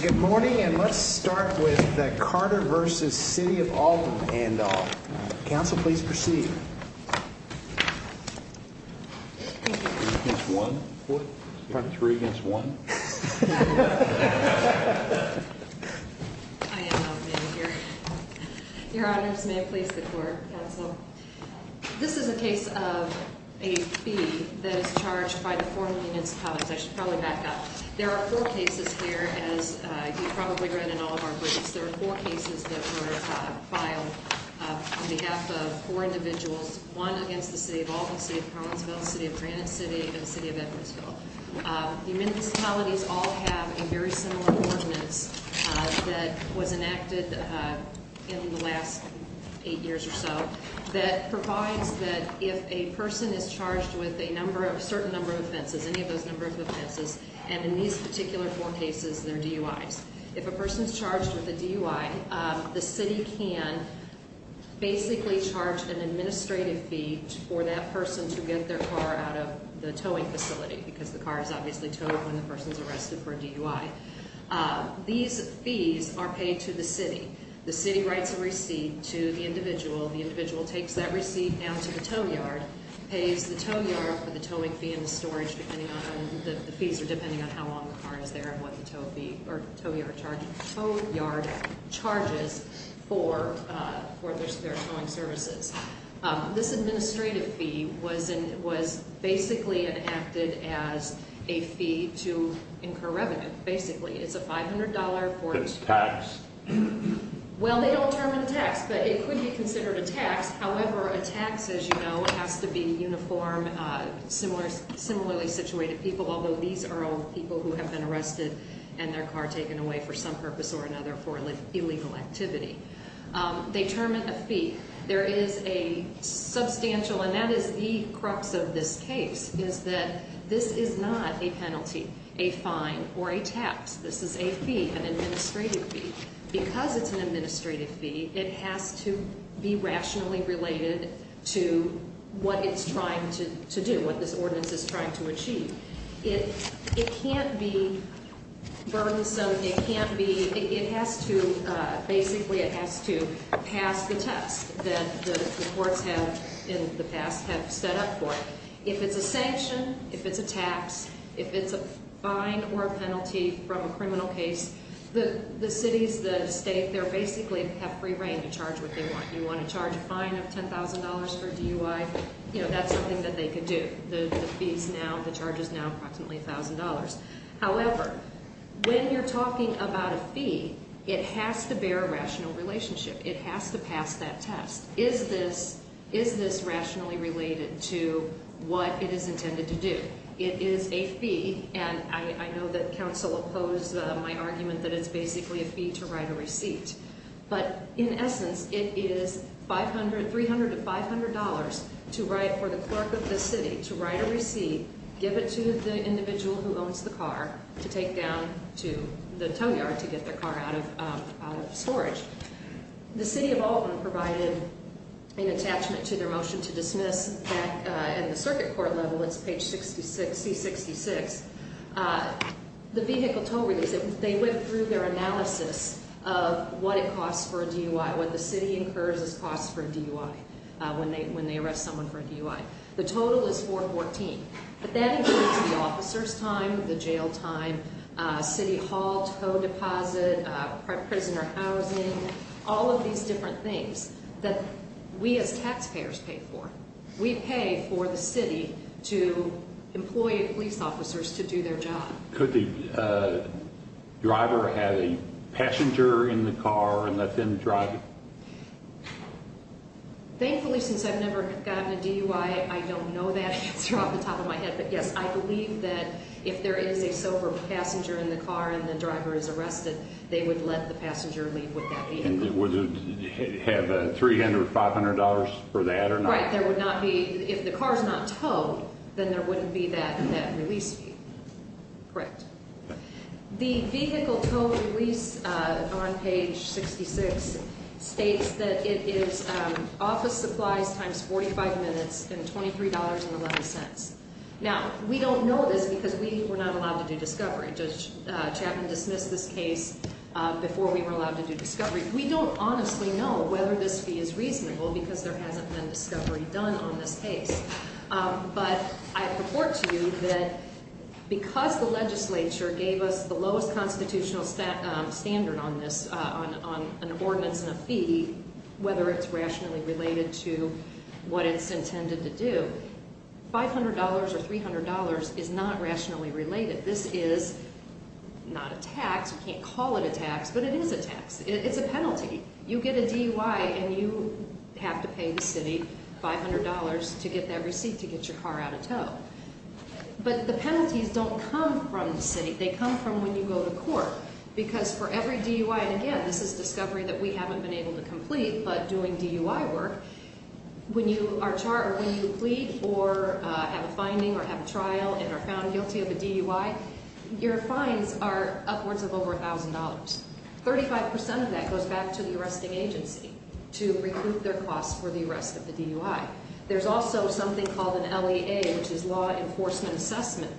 Good morning and let's start with the Carter vs. City of Alton handoff. Council, please proceed. Three against one? I am out of it here. Your honors, may it please the court, this is a case of a fee that is charged by the city of Alton. There are four cases here, as you probably read in all of our briefs, there are four cases that were filed on behalf of four individuals, one against the city of Alton, the city of Collinsville, the city of Granite City, and the city of Edwardsville. The municipalities all have a very similar ordinance that was enacted in the last eight years or so that provides that if a person is charged with a certain number of offenses, any of those number of offenses, and in these particular four cases they're DUIs. If a person is charged with a DUI, the city can basically charge an administrative fee for that person to get their car out of the towing facility because the car is obviously towed when the person is arrested for a DUI. These fees are paid to the city. The city writes a receipt to the individual, the individual takes that receipt down to the tow yard, pays the tow yard for the towing fee and the storage, depending on, the fees are depending on how long the car is there and what the tow yard charges for their towing services. This administrative fee was basically enacted as a fee to incur revenue, basically. It's a $500. It's tax. Well, they don't term it a tax, but it could be considered a tax. However, a tax, as you know, has to be uniform, similarly situated people, although these are all people who have been arrested and their car taken away for some purpose or another for illegal activity. They term it a fee. There is a substantial, and that is the crux of this case, is that this is not a penalty, a fine, or a tax. This is a fee, an administrative fee. Because it's an administrative fee, it has to be rationally related to what it's trying to do, what this ordinance is trying to achieve. It can't be burdensome, it can't be, it has to, basically it has to pass the test that the courts have in the past have set up for it. If it's a sanction, if it's a tax, if it's a fine or a penalty from a criminal case, the cities, the state, they're basically have free reign to charge what they want. You want to charge a fine of $10,000 for DUI, you know, that's something that they could do. The fees now, the charge is now approximately $1,000. However, when you're talking about a fee, it has to bear a rational relationship. It has to pass that test. Is this, is this rationally related to what it is intended to do? It is a fee, and I know that council opposed my argument that it's basically a fee to write a receipt. But in essence, it is $300 to $500 to write, for the clerk of the city, to write a receipt, give it to the individual who owns the car, to take down to the tow yard to get their car out of storage. The city of Alton provided an attachment to their motion to dismiss back at the circuit court level, it's page 66, C66. The vehicle tow release, they went through their analysis of what it costs for a DUI, what the city incurs as costs for a DUI when they arrest someone for a DUI. The total is $414. But that includes the officer's time, the jail time, city hall tow deposit, prisoner housing, all of these different things that we as taxpayers pay for. We pay for the city to employ police officers to do their job. Could the driver have a passenger in the car and let them drive it? Thankfully, since I've never gotten a DUI, I don't know that answer off the top of my head. But yes, I believe that if there is a sober passenger in the car and the driver is arrested, they would let the passenger leave with that vehicle. And would it have $300, $500 for that or not? All right, there would not be, if the car is not towed, then there wouldn't be that release fee. Correct. The vehicle tow release on page 66 states that it is office supplies times 45 minutes and $23.11. Now, we don't know this because we were not allowed to do discovery. Judge Chapman dismissed this case before we were allowed to do discovery. We don't honestly know whether this fee is reasonable because there hasn't been discovery done on this case. But I report to you that because the legislature gave us the lowest constitutional standard on this, on an ordinance and a fee, whether it's rationally related to what it's intended to do, $500 or $300 is not rationally related. This is not a tax. You can't call it a tax, but it is a tax. It's a penalty. You get a DUI and you have to pay the city $500 to get that receipt to get your car out of tow. But the penalties don't come from the city. They come from when you go to court. Because for every DUI, and again, this is discovery that we haven't been able to complete, but doing DUI work, when you are charged or when you plead or have a finding or have a trial and are found guilty of a DUI, your fines are upwards of over $1,000. Thirty-five percent of that goes back to the arresting agency to recoup their costs for the arrest of the DUI. There's also something called an LEA, which is Law Enforcement Assessment.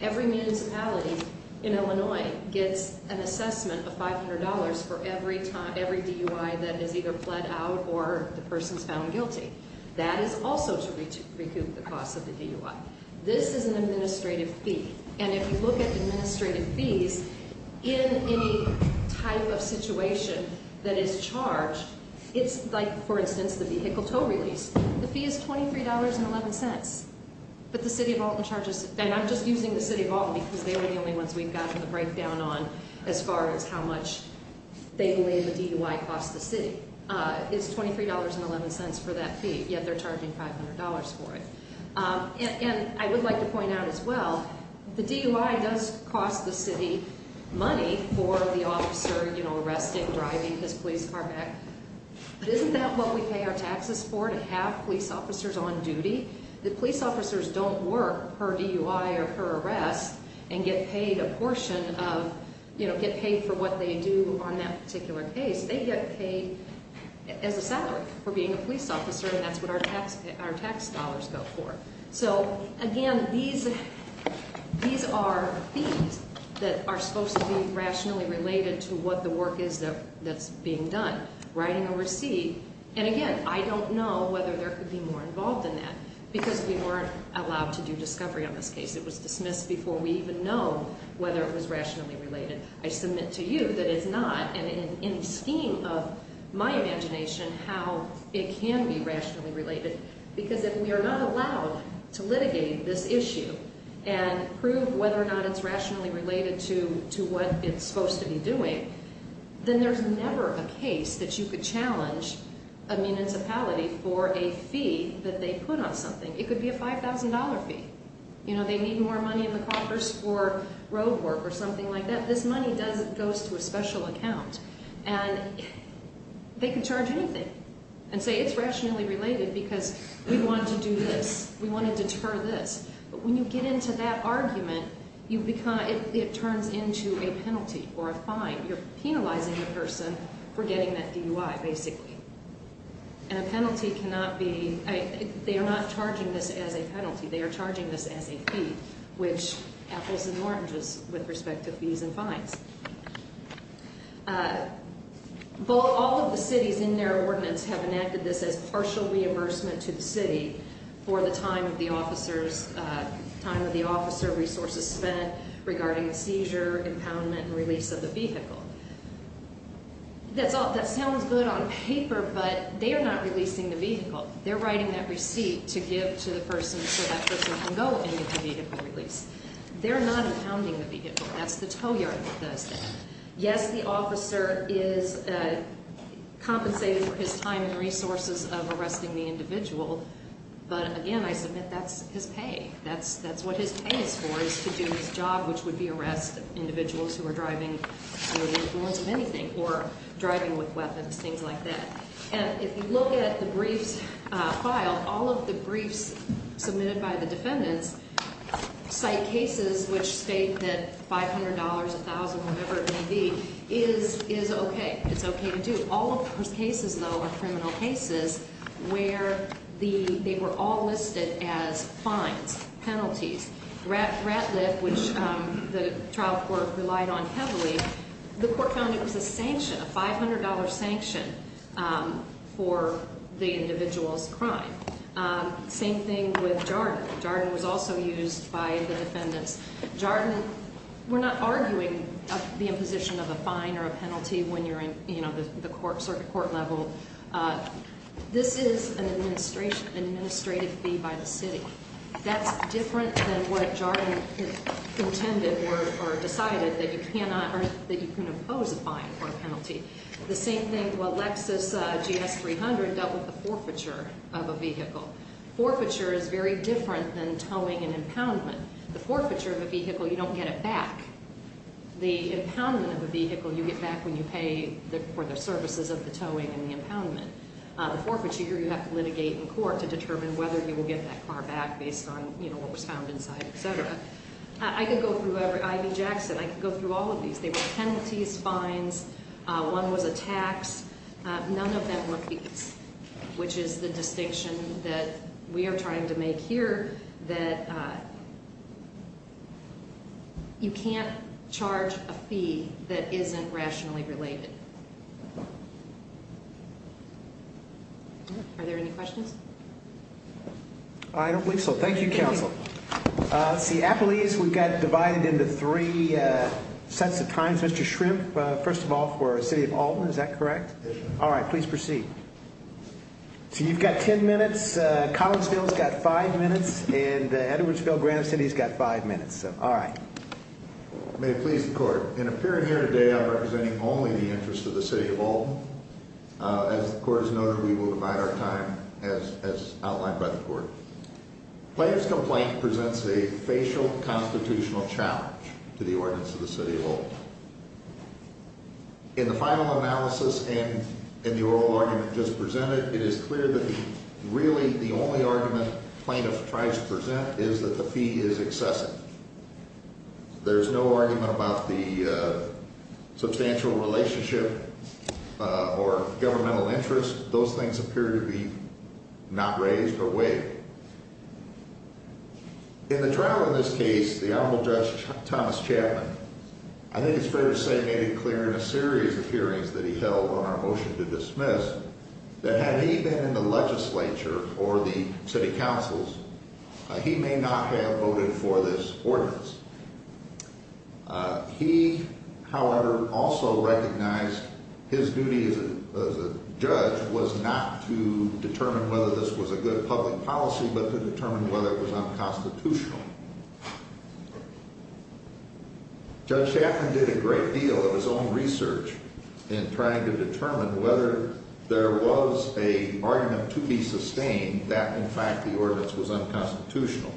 Every municipality in Illinois gets an assessment of $500 for every DUI that is either pled out or the person is found guilty. That is also to recoup the cost of the DUI. This is an administrative fee. And if you look at administrative fees, in any type of situation that is charged, it's like, for instance, the vehicle tow release. The fee is $23.11. But the City of Alton charges, and I'm just using the City of Alton because they are the only ones we've gotten the breakdown on as far as how much they believe the DUI costs the city. It's $23.11 for that fee, yet they're charging $500 for it. And I would like to point out as well, the DUI does cost the city money for the officer, you know, arresting, driving his police car back. But isn't that what we pay our taxes for, to have police officers on duty? The police officers don't work per DUI or per arrest and get paid a portion of, you know, get paid for what they do on that particular case. They get paid as a salary for being a police officer, and that's what our tax dollars go for. So, again, these are fees that are supposed to be rationally related to what the work is that's being done, writing a receipt. And again, I don't know whether there could be more involved in that because we weren't allowed to do discovery on this case. It was dismissed before we even know whether it was rationally related. I submit to you that it's not, and in the scheme of my imagination, how it can be rationally related. Because if we are not allowed to litigate this issue and prove whether or not it's rationally related to what it's supposed to be doing, then there's never a case that you could challenge a municipality for a fee that they put on something. It could be a $5,000 fee. You know, they need more money in the Congress for road work or something like that. This money goes to a special account, and they can charge anything and say it's rationally related because we want to do this. We want to deter this. But when you get into that argument, it turns into a penalty or a fine. You're penalizing the person for getting that DUI, basically. And a penalty cannot be – they are not charging this as a penalty. They are charging this as a fee, which apples and oranges with respect to fees and fines. All of the cities in their ordinance have enacted this as partial reimbursement to the city for the time of the officer, resources spent regarding the seizure, impoundment, and release of the vehicle. That sounds good on paper, but they are not releasing the vehicle. They're writing that receipt to give to the person so that person can go and get the vehicle released. They're not impounding the vehicle. That's the tow yard that does that. Yes, the officer is compensated for his time and resources of arresting the individual. But, again, I submit that's his pay. That's what his pay is for is to do his job, which would be arrest individuals who are driving or the influence of anything or driving with weapons, things like that. And if you look at the briefs filed, all of the briefs submitted by the defendants cite cases which state that $500, $1,000, whatever it may be, is okay. It's okay to do. All of those cases, though, are criminal cases where they were all listed as fines, penalties. Ratliff, which the trial court relied on heavily, the court found it was a sanction, a $500 sanction for the individual's crime. Same thing with Jarden. Jarden was also used by the defendants. Jarden, we're not arguing the imposition of a fine or a penalty when you're in the circuit court level. This is an administrative fee by the city. That's different than what Jarden intended or decided that you cannot or that you can impose a fine or a penalty. The same thing, well, Lexus GS300 dealt with the forfeiture of a vehicle. Forfeiture is very different than towing and impoundment. The forfeiture of a vehicle, you don't get it back. The impoundment of a vehicle, you get back when you pay for the services of the towing and the impoundment. The forfeiture, you have to litigate in court to determine whether you will get that car back based on, you know, what was found inside, et cetera. I could go through every IV Jackson. I could go through all of these. They were penalties, fines. One was a tax. None of them were fees, which is the distinction that we are trying to make here, that you can't charge a fee that isn't rationally related. Are there any questions? I don't believe so. Thank you, counsel. Let's see. Appellees, we've got divided into three sets of times. Mr. Shrimp, first of all, for City of Alton. Is that correct? All right. Please proceed. So you've got 10 minutes. Collinsville's got five minutes. And Edwardsville, Granite City's got five minutes. All right. May it please the court. In appearing here today, I'm representing only the interests of the City of Alton. As the court has noted, we will divide our time as outlined by the court. Plaintiff's complaint presents a facial constitutional challenge to the ordinance of the City of Alton. In the final analysis and in the oral argument just presented, it is clear that really the only argument plaintiff tries to present is that the fee is excessive. There's no argument about the substantial relationship or governmental interest. Those things appear to be not raised or weighed. In the trial in this case, the Honorable Judge Thomas Chapman, I think it's fair to say, made it clear in a series of hearings that he held on our motion to dismiss that had he been in the legislature or the city councils, he may not have voted for this ordinance. He, however, also recognized his duty as a judge was not to determine whether this was a good public policy, but to determine whether it was unconstitutional. Judge Chapman did a great deal of his own research in trying to determine whether there was an argument to be sustained that, in fact, the ordinance was unconstitutional.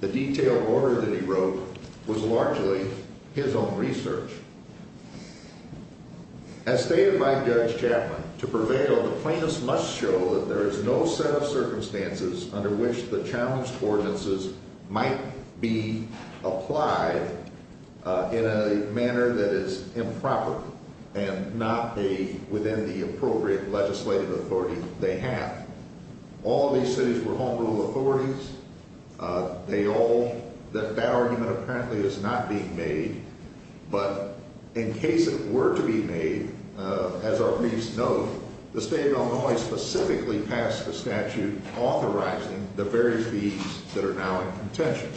The detailed order that he wrote was largely his own research. As stated by Judge Chapman, to prevail, the plaintiffs must show that there is no set of circumstances under which the challenged ordinances might be applied in a manner that is improper and not within the appropriate legislative authority they have. All these cities were home rule authorities. That argument apparently is not being made, but in case it were to be made, as our briefs note, the state of Illinois specifically passed a statute authorizing the very fees that are now in contention.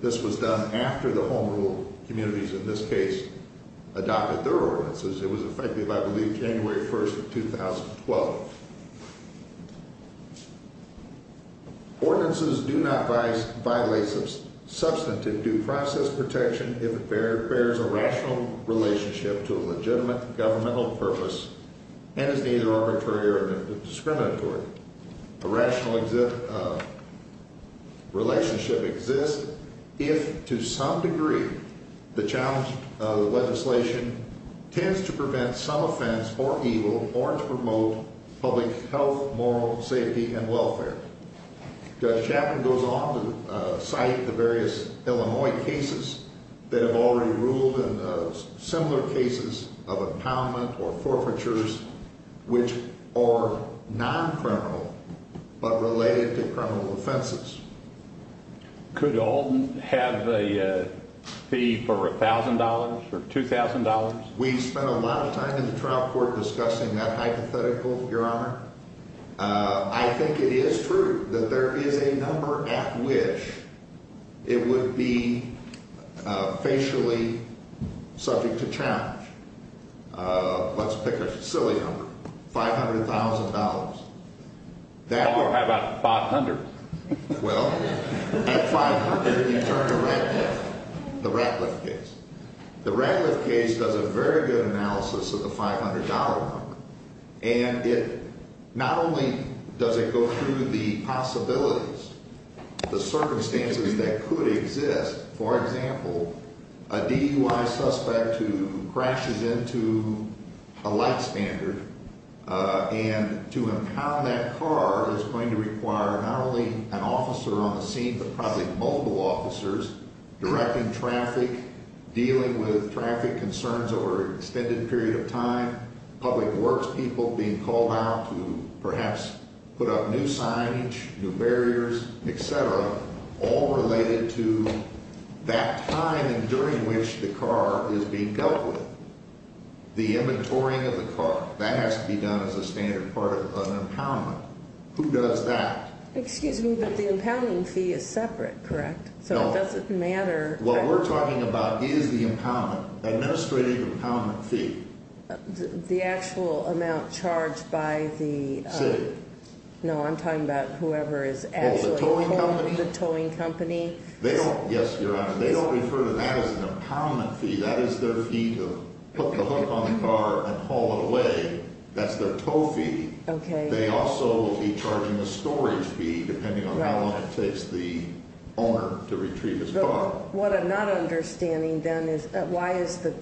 This was done after the home rule communities, in this case, adopted their ordinances. It was effective, I believe, January 1st of 2012. Ordinances do not violate substantive due process protection if it bears a rational relationship to a legitimate governmental purpose and is neither arbitrary or discriminatory. A rational relationship exists if, to some degree, the challenged legislation tends to prevent some offense or evil or to promote public health, moral safety, and welfare. Judge Chapman goes on to cite the various Illinois cases that have already ruled and similar cases of impoundment or forfeitures which are non-criminal but related to criminal offenses. Could Alden have a fee for $1,000 or $2,000? We spent a lot of time in the trial court discussing that hypothetical, Your Honor. I think it is true that there is a number at which it would be facially subject to challenge. Let's pick a silly number, $500,000. Or how about $500,000? Well, at $500,000 you turn to Radcliffe, the Radcliffe case. The Radcliffe case does a very good analysis of the $500 one. And it not only does it go through the possibilities, the circumstances that could exist, for example, a DUI suspect who crashes into a light standard, and to impound that car is going to require not only an officer on the scene but probably multiple officers directing traffic, dealing with traffic concerns over an extended period of time, public works people being called out to perhaps put up new signage, new barriers, etc., all related to that time and during which the car is being dealt with. The inventorying of the car, that has to be done as a standard part of an impoundment. Who does that? Excuse me, but the impounding fee is separate, correct? No. So it doesn't matter? What we're talking about is the impoundment, the administrative impoundment fee. The actual amount charged by the... City. No, I'm talking about whoever is actually... Oh, the towing company? The towing company. Yes, Your Honor. They don't refer to that as an impoundment fee. That is their fee to put the hook on the car and haul it away. That's their tow fee. They also will be charging a storage fee, depending on how long it takes the owner to retrieve his car. What I'm not understanding, then, is why is the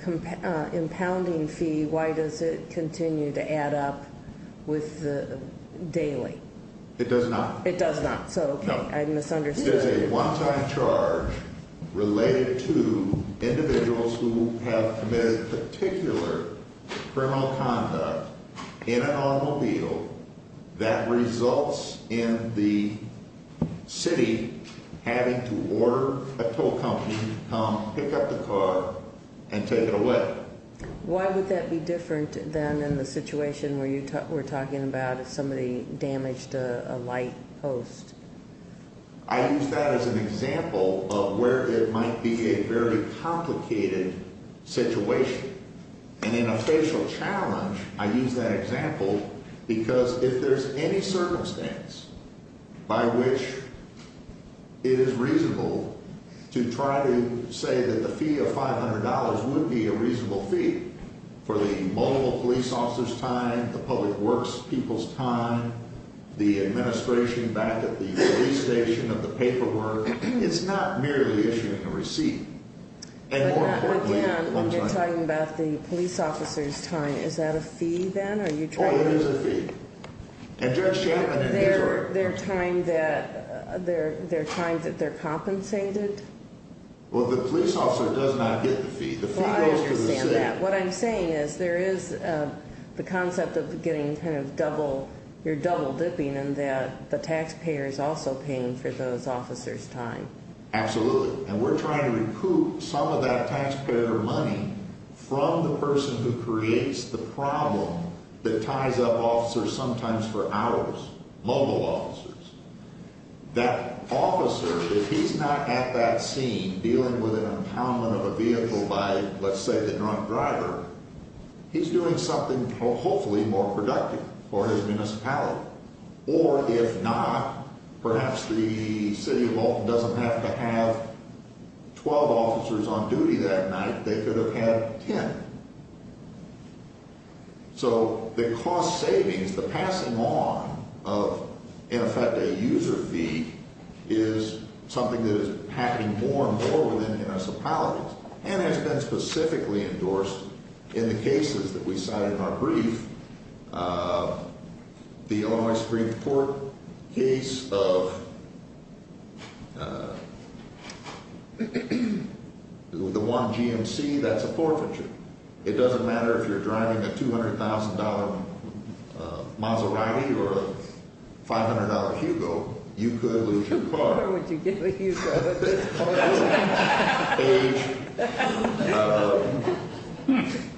impounding fee, why does it continue to add up with the daily? It does not. It does not. I misunderstood. It is a one-time charge related to individuals who have committed particular criminal conduct in an automobile that results in the city having to order a tow company to come pick up the car and take it away. Why would that be different than in the situation we're talking about if somebody damaged a light post? I use that as an example of where it might be a very complicated situation. And in a facial challenge, I use that example because if there's any circumstance by which it is reasonable to try to say that the fee of $500 would be a reasonable fee for the multiple police officers' time, the public works people's time, the administration back at the police station of the paperwork, it's not merely issuing a receipt. Again, when you're talking about the police officers' time, is that a fee, then? Oh, it is a fee. And Judge Chapman and his work. Their time that they're compensated? Well, the police officer does not get the fee. Well, I understand that. What I'm saying is there is the concept of getting kind of double, you're double dipping in that the taxpayer is also paying for those officers' time. Absolutely. And they recoup some of that taxpayer money from the person who creates the problem that ties up officers sometimes for hours, mobile officers. That officer, if he's not at that scene dealing with an impoundment of a vehicle by, let's say, the drunk driver, he's doing something hopefully more productive for his municipality. Or if not, perhaps the city of Alton doesn't have to have 12 officers on duty that night. They could have had 10. So the cost savings, the passing on of, in effect, a user fee is something that is happening more and more within municipalities. And has been specifically endorsed in the cases that we cited in our brief. The Illinois Supreme Court case of the one GMC, that's a forfeiture. It doesn't matter if you're driving a $200,000 Maserati or a $500 Hugo, you could lose your car. But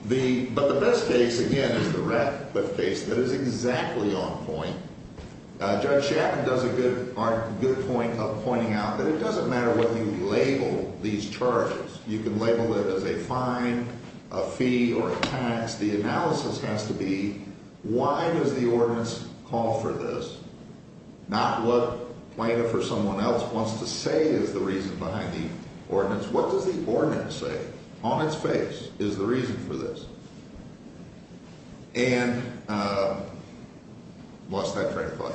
the best case, again, is the Ratcliffe case that is exactly on point. Judge Shapman does a good point of pointing out that it doesn't matter whether you label these charges. You can label it as a fine, a fee, or a tax. The analysis has to be, why does the ordinance call for this? Not what plaintiff or someone else wants to say is the reason behind the ordinance. What does the ordinance say on its face is the reason for this? And, lost that train of thought.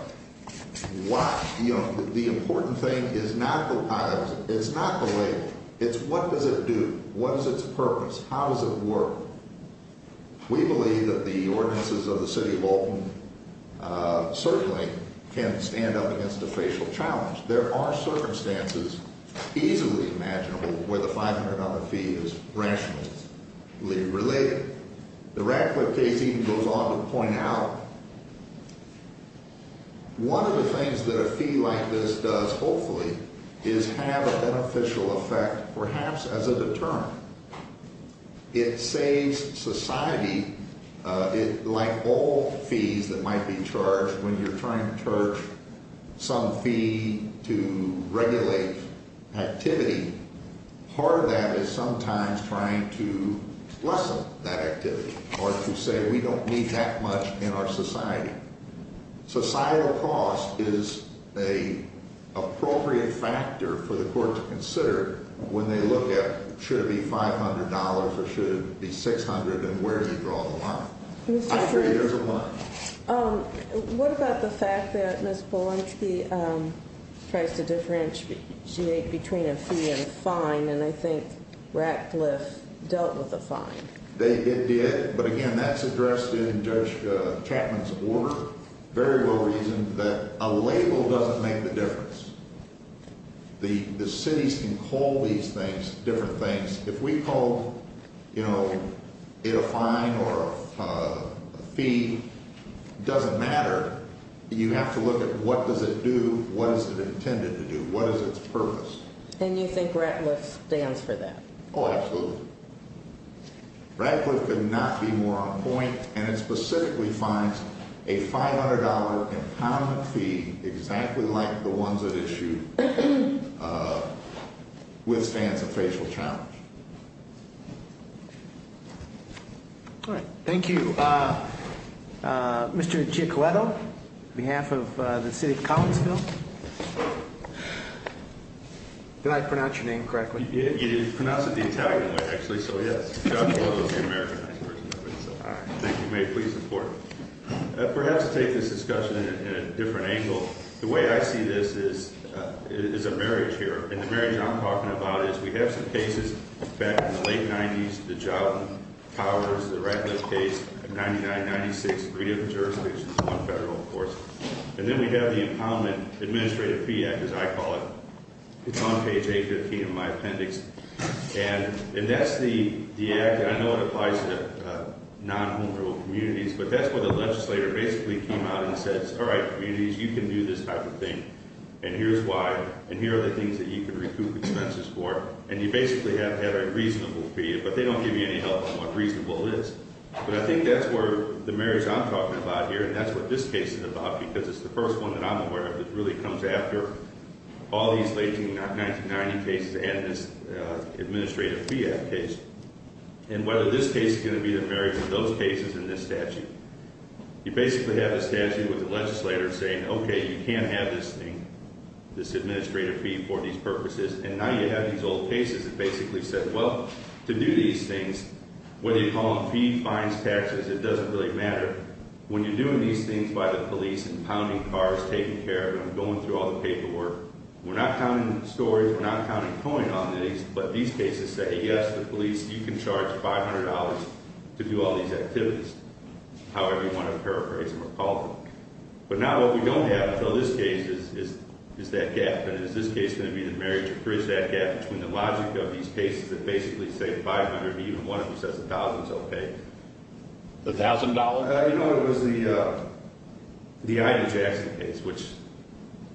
What, you know, the important thing is not the title, it's not the label. It's what does it do? What is its purpose? How does it work? We believe that the ordinances of the city of Alton certainly can stand up against a facial challenge. There are circumstances, easily imaginable, where the $500 fee is rationally related. The Ratcliffe case even goes on to point out, one of the things that a fee like this does, hopefully, is have a beneficial effect, perhaps as a deterrent. It saves society. Like all fees that might be charged, when you're trying to charge some fee to regulate activity, part of that is sometimes trying to lessen that activity. Or to say we don't need that much in our society. Societal cost is an appropriate factor for the court to consider when they look at should it be $500 or should it be $600 and where do you draw the line? I think there's a line. What about the fact that Ms. Polonsky tries to differentiate between a fee and a fine, and I think Ratcliffe dealt with the fine. It did, but again, that's addressed in Judge Chapman's order, very well reasoned, that a label doesn't make the difference. The cities can call these things different things. If we called it a fine or a fee, it doesn't matter. You have to look at what does it do, what is it intended to do, what is its purpose. And you think Ratcliffe stands for that? Oh, absolutely. Ratcliffe could not be more on point, and it specifically fines a $500 empowerment fee exactly like the ones it issued with stands of facial challenge. All right, thank you. Mr. Giacoletto, on behalf of the city of Collinsville. Did I pronounce your name correctly? You did, you pronounced it the Italian way, actually, so yes. I'm also the Americanized version of it, so I think you may please support it. Perhaps take this discussion in a different angle. The way I see this is a marriage here, and the marriage I'm talking about is we have some cases back in the late 90s, the job powers, the Ratcliffe case, 99-96, three different jurisdictions, one federal, of course. And then we have the Empowerment Administrative Fee Act, as I call it. It's on page 815 of my appendix. And that's the Act. I know it applies to non-home-grown communities, but that's where the legislator basically came out and said, all right, communities, you can do this type of thing, and here's why, and here are the things that you can recoup expenses for. And you basically have had a reasonable fee, but they don't give you any help on what reasonable is. But I think that's where the marriage I'm talking about here, and that's what this case is about, because it's the first one that I'm aware of that really comes after all these late 1990 cases. The Administrative Fee Act case. And whether this case is going to be the marriage of those cases and this statute. You basically have the statute with the legislator saying, okay, you can't have this thing, this administrative fee for these purposes. And now you have these old cases that basically said, well, to do these things, whether you call them fee, fines, taxes, it doesn't really matter. When you're doing these things by the police and pounding cars, taking care of them, going through all the paperwork, we're not counting stories, we're not counting coin on these. We're going to let these cases say, yes, the police, you can charge $500 to do all these activities. However you want to paraphrase them or call them. But now what we don't have until this case is that gap. And is this case going to be the marriage, or is that gap between the logic of these cases that basically say $500 and even one of them says $1,000 is okay? The $1,000? You know, it was the Ida Jackson case, which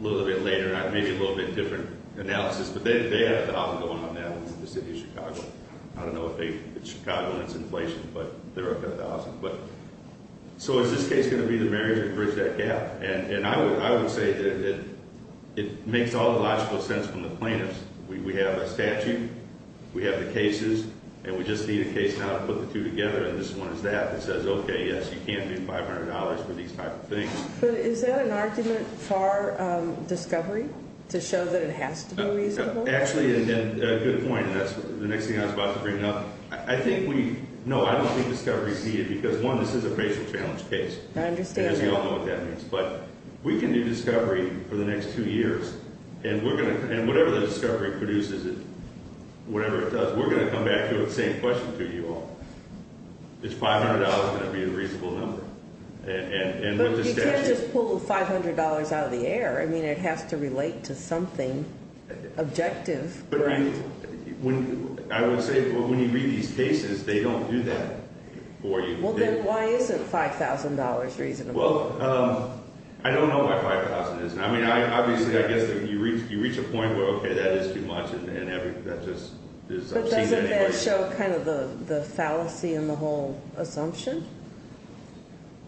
a little bit later, maybe a little bit different analysis, but they had $1,000 going on now in the city of Chicago. I don't know if it's Chicago and it's inflation, but they're up to $1,000. So is this case going to be the marriage or bridge that gap? And I would say that it makes all the logical sense from the plaintiffs. We have a statute, we have the cases, and we just need a case now to put the two together. And this one is that that says, okay, yes, you can do $500 for these type of things. But is that an argument for discovery to show that it has to be reasonable? Actually, a good point, and that's the next thing I was about to bring up. I think we, no, I don't think discovery is needed because, one, this is a facial challenge case. I understand that. And we all know what that means. But we can do discovery for the next two years, and whatever the discovery produces, whatever it does, we're going to come back to it with the same question to you all. It's $500 going to be a reasonable number. But you can't just pull $500 out of the air. I mean, it has to relate to something objective. But I would say when you read these cases, they don't do that for you. Well, then why isn't $5,000 reasonable? Well, I don't know why $5,000 isn't. I mean, obviously, I guess you reach a point where, okay, that is too much, and that just is obscene in many ways. Does that show kind of the fallacy in the whole assumption?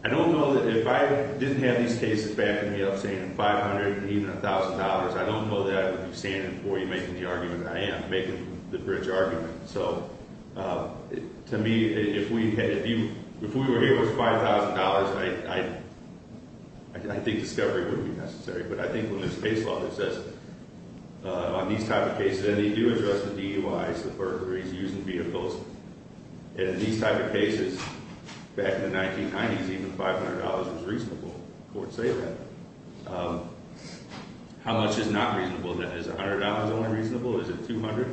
I don't know that if I didn't have these cases backing me up saying $500 and even $1,000, I don't know that I would be standing before you making the argument that I am, making the bridge argument. So to me, if we were here with $5,000, I think discovery wouldn't be necessary. But I think when there's case law that says on these type of cases, and they do address the DUIs, the burglaries, using vehicles. In these type of cases, back in the 1990s, even $500 was reasonable. Courts say that. How much is not reasonable then? Is $100 only reasonable? Is it $200?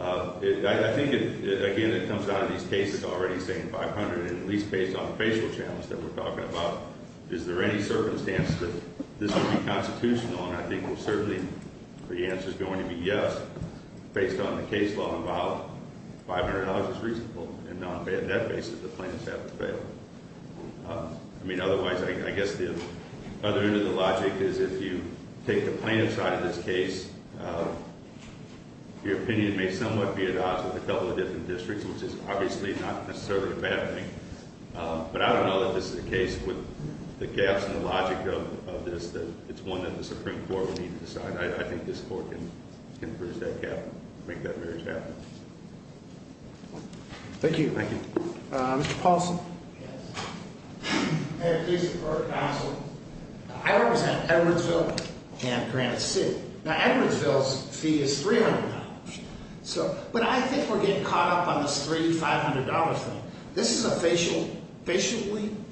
I think, again, it comes down to these cases already saying $500, and at least based on the facial channels that we're talking about, is there any circumstance that this would be constitutional? And I think certainly the answer is going to be yes. Based on the case law involved, $500 is reasonable. And on that basis, the plaintiffs have to fail. I mean, otherwise, I guess the other end of the logic is if you take the plaintiff's side of this case, your opinion may somewhat be at odds with a couple of different districts, which is obviously not necessarily a bad thing. But I don't know that this is the case with the gaps in the logic of this, that it's one that the Supreme Court would need to decide. I think this Court can bridge that gap, make that marriage happen. Thank you. Mr. Paulson? I have a case for the Court of Counsel. I represent Edwardsville and Granite City. Now, Edwardsville's fee is $300. But I think we're getting caught up on this $300-$500 thing. This is officially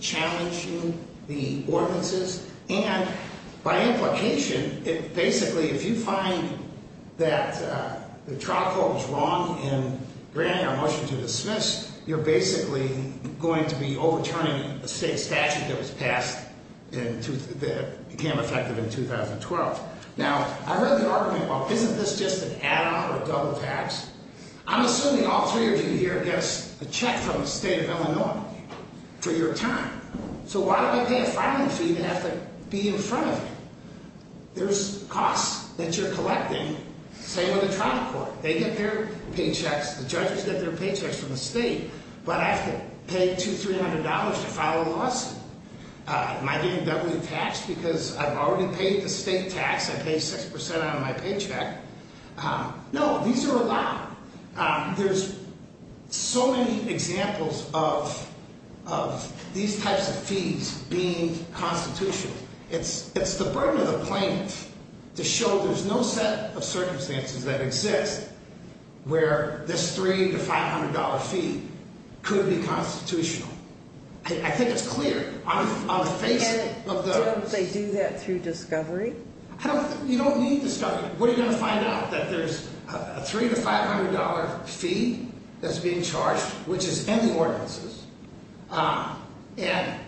challenging the ordinances. And by implication, basically, if you find that the trial code was wrong in granting our motion to dismiss, you're basically going to be overturning a state statute that was passed that became effective in 2012. Now, I heard the argument, well, isn't this just an add-on or a double tax? I'm assuming all three of you here get a check from the state of Illinois for your time. So why do I pay a filing fee to have to be in front of you? There's costs that you're collecting. Same with the trial court. They get their paychecks. The judges get their paychecks from the state. But I have to pay $200-$300 to file a lawsuit. Am I getting double taxed because I've already paid the state tax? I paid 6% out of my paycheck. No, these are allowed. There's so many examples of these types of fees being constitutional. It's the burden of the plaintiff to show there's no set of circumstances that exist where this $300-$500 fee could be constitutional. I think it's clear. And don't they do that through discovery? You don't need discovery. You find out that there's a $300-$500 fee that's being charged, which is in the ordinances. And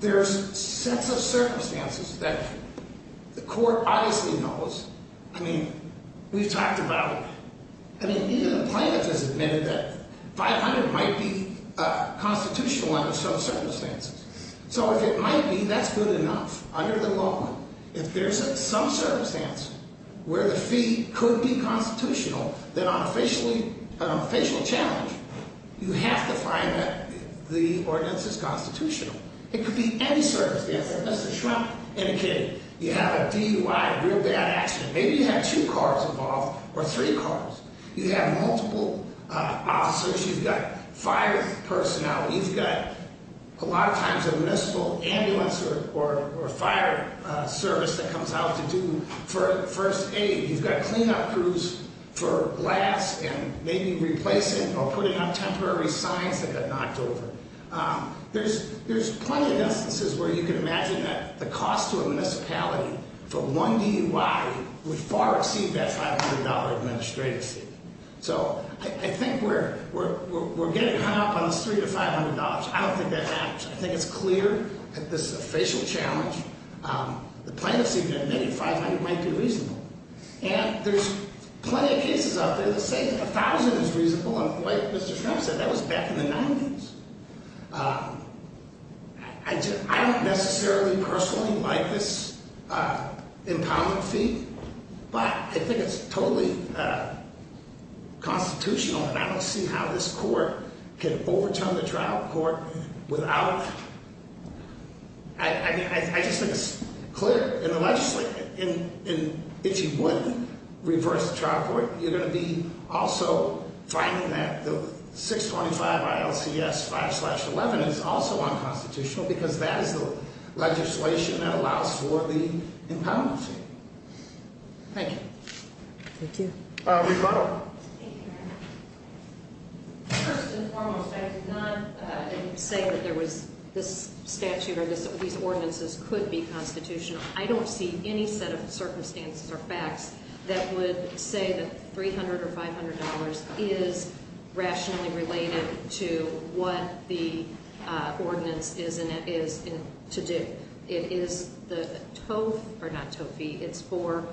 there's sets of circumstances that the court obviously knows. I mean, we've talked about it. I mean, neither the plaintiff has admitted that $500 might be constitutional under some circumstances. So if it might be, that's good enough under the law. If there's some circumstance where the fee could be constitutional, then on a facial challenge, you have to find that the ordinance is constitutional. It could be any circumstance, unless it's Trump indicating. You have a DUI, a real bad accident. Maybe you have two cars involved or three cars. You have multiple officers. You've got fire personnel. You've got a lot of times a municipal ambulance or fire service that comes out to do first aid. You've got cleanup crews for glass and maybe replacing or putting up temporary signs that got knocked over. There's plenty of instances where you can imagine that the cost to a municipality for one DUI would far exceed that $500 administrative fee. So I think we're getting hung up on this $300 to $500. I don't think that matters. I think it's clear that this is a facial challenge. The plaintiff's even admitted $500 might be reasonable. And there's plenty of cases out there that say $1,000 is reasonable. And like Mr. Trump said, that was back in the 90s. I don't necessarily personally like this impoundment fee. But I think it's totally constitutional. And I don't see how this court can overturn the trial court without, I mean, I just think it's clear. And if you would reverse the trial court, you're going to be also finding that the 625 ILCS 5 slash 11 is also unconstitutional because that is the legislation that allows for the impoundment fee. Thank you. Thank you. Rebuttal. First and foremost, I did not say that there was this statute or these ordinances could be constitutional. I don't see any set of circumstances or facts that would say that $300 or $500 is rationally related to what the ordinance is to do. It is the tow, or not tow fee, it's for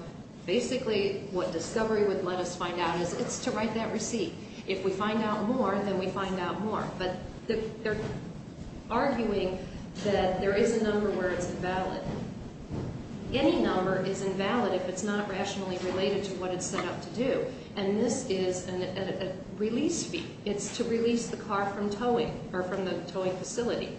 basically what discovery would let us find out is it's to write that receipt. If we find out more, then we find out more. But they're arguing that there is a number where it's invalid. Any number is invalid if it's not rationally related to what it's set out to do. And this is a release fee. It's to release the car from towing or from the towing facility.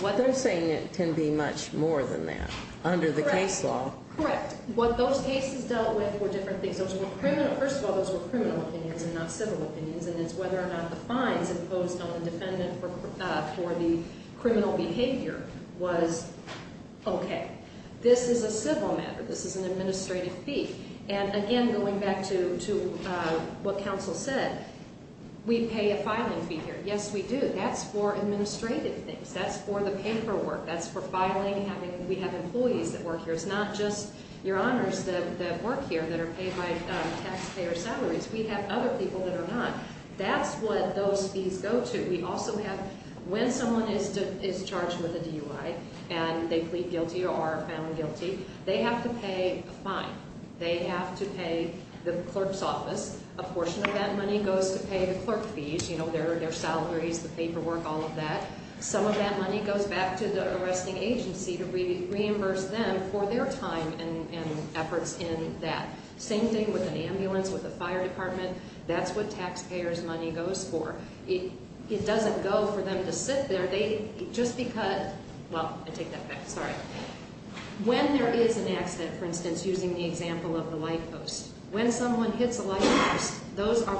They're saying it can be much more than that under the case law. Correct. What those cases dealt with were different things. First of all, those were criminal opinions and not civil opinions. And it's whether or not the fines imposed on the defendant for the criminal behavior was okay. This is a civil matter. This is an administrative fee. And again, going back to what counsel said, we pay a filing fee here. Yes, we do. That's for administrative things. That's for the paperwork. That's for filing. We have employees that work here. It's not just your honors that work here that are paid by taxpayer salaries. We have other people that are not. That's what those fees go to. We also have, when someone is charged with a DUI and they plead guilty or are found guilty, they have to pay a fine. They have to pay the clerk's office. A portion of that money goes to pay the clerk fees. You know, their salaries, the paperwork, all of that. Some of that money goes back to the arresting agency to reimburse them for their time and efforts in that. Same thing with an ambulance, with a fire department. That's what taxpayer's money goes for. It doesn't go for them to sit there. They just be cut. Well, I take that back. Sorry. When there is an accident, for instance, using the example of the light post, when someone hits a light post, those are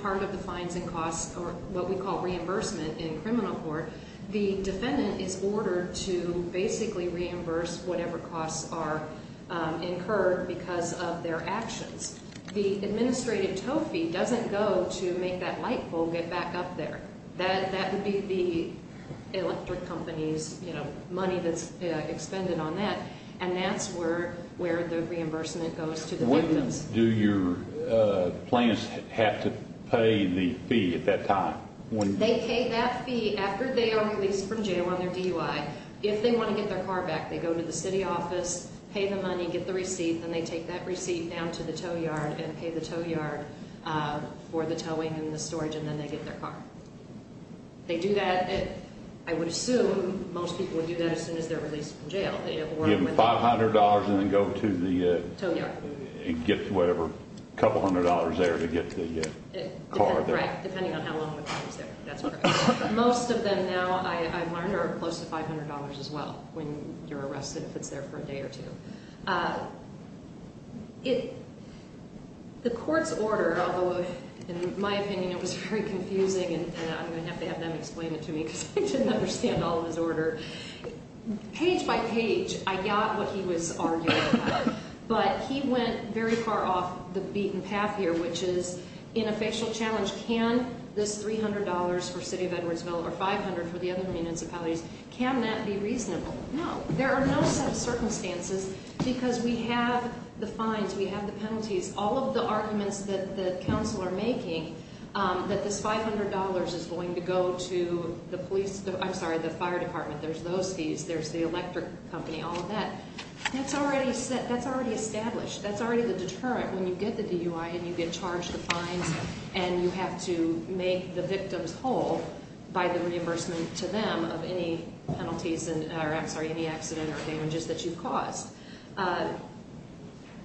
part of the fines and costs or what we call reimbursement in criminal court. The defendant is ordered to basically reimburse whatever costs are incurred because of their actions. The administrative tow fee doesn't go to make that light pole get back up there. That would be the electric company's money that's expended on that. And that's where the reimbursement goes to the victims. Do your clients have to pay the fee at that time? They pay that fee after they are released from jail on their DUI. If they want to get their car back, they go to the city office, pay the money, get the receipt. Then they take that receipt down to the tow yard and pay the tow yard for the towing and the storage. And then they get their car. They do that. I would assume most people would do that as soon as they're released from jail. Give them $500 and then go to the tow yard and get whatever, a couple hundred dollars there to get the car back. Right, depending on how long the time is there. That's correct. Most of them now, I've learned, are close to $500 as well when you're arrested if it's there for a day or two. The court's order, although in my opinion it was very confusing and I'm going to have to have them explain it to me because I didn't understand all of his order. Page by page, I got what he was arguing about. But he went very far off the beaten path here, which is in a fictional challenge. Can this $300 for the city of Edwardsville or $500 for the other municipalities, can that be reasonable? No. There are no set of circumstances because we have the fines, we have the penalties. All of the arguments that the counsel are making that this $500 is going to go to the police, I'm sorry, the fire department. There's those fees, there's the electric company, all of that. That's already established. That's already the deterrent when you get to DUI and you get charged the fines and you have to make the victims whole by the reimbursement to them of any penalties or any accident or damages that you've caused.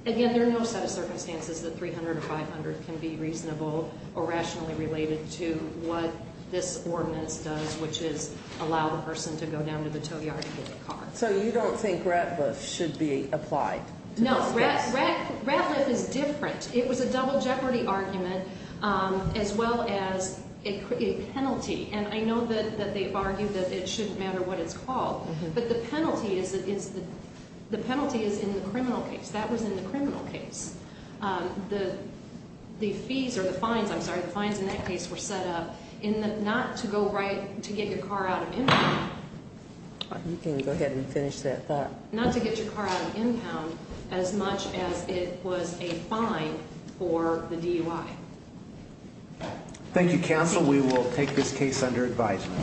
Again, there are no set of circumstances that $300 or $500 can be reasonable or rationally related to what this ordinance does, which is allow the person to go down to the tow yard and get the car. So you don't think Rat Lift should be applied? No. Rat Lift is different. It was a double jeopardy argument as well as a penalty. And I know that they've argued that it shouldn't matter what it's called, but the penalty is in the criminal case. That was in the criminal case. The fees or the fines, I'm sorry, the fines in that case were set up not to get your car out of income. You can go ahead and finish that thought. Not to get your car out of income as much as it was a fine for the DUI. Thank you, counsel. We will take this case under advisement.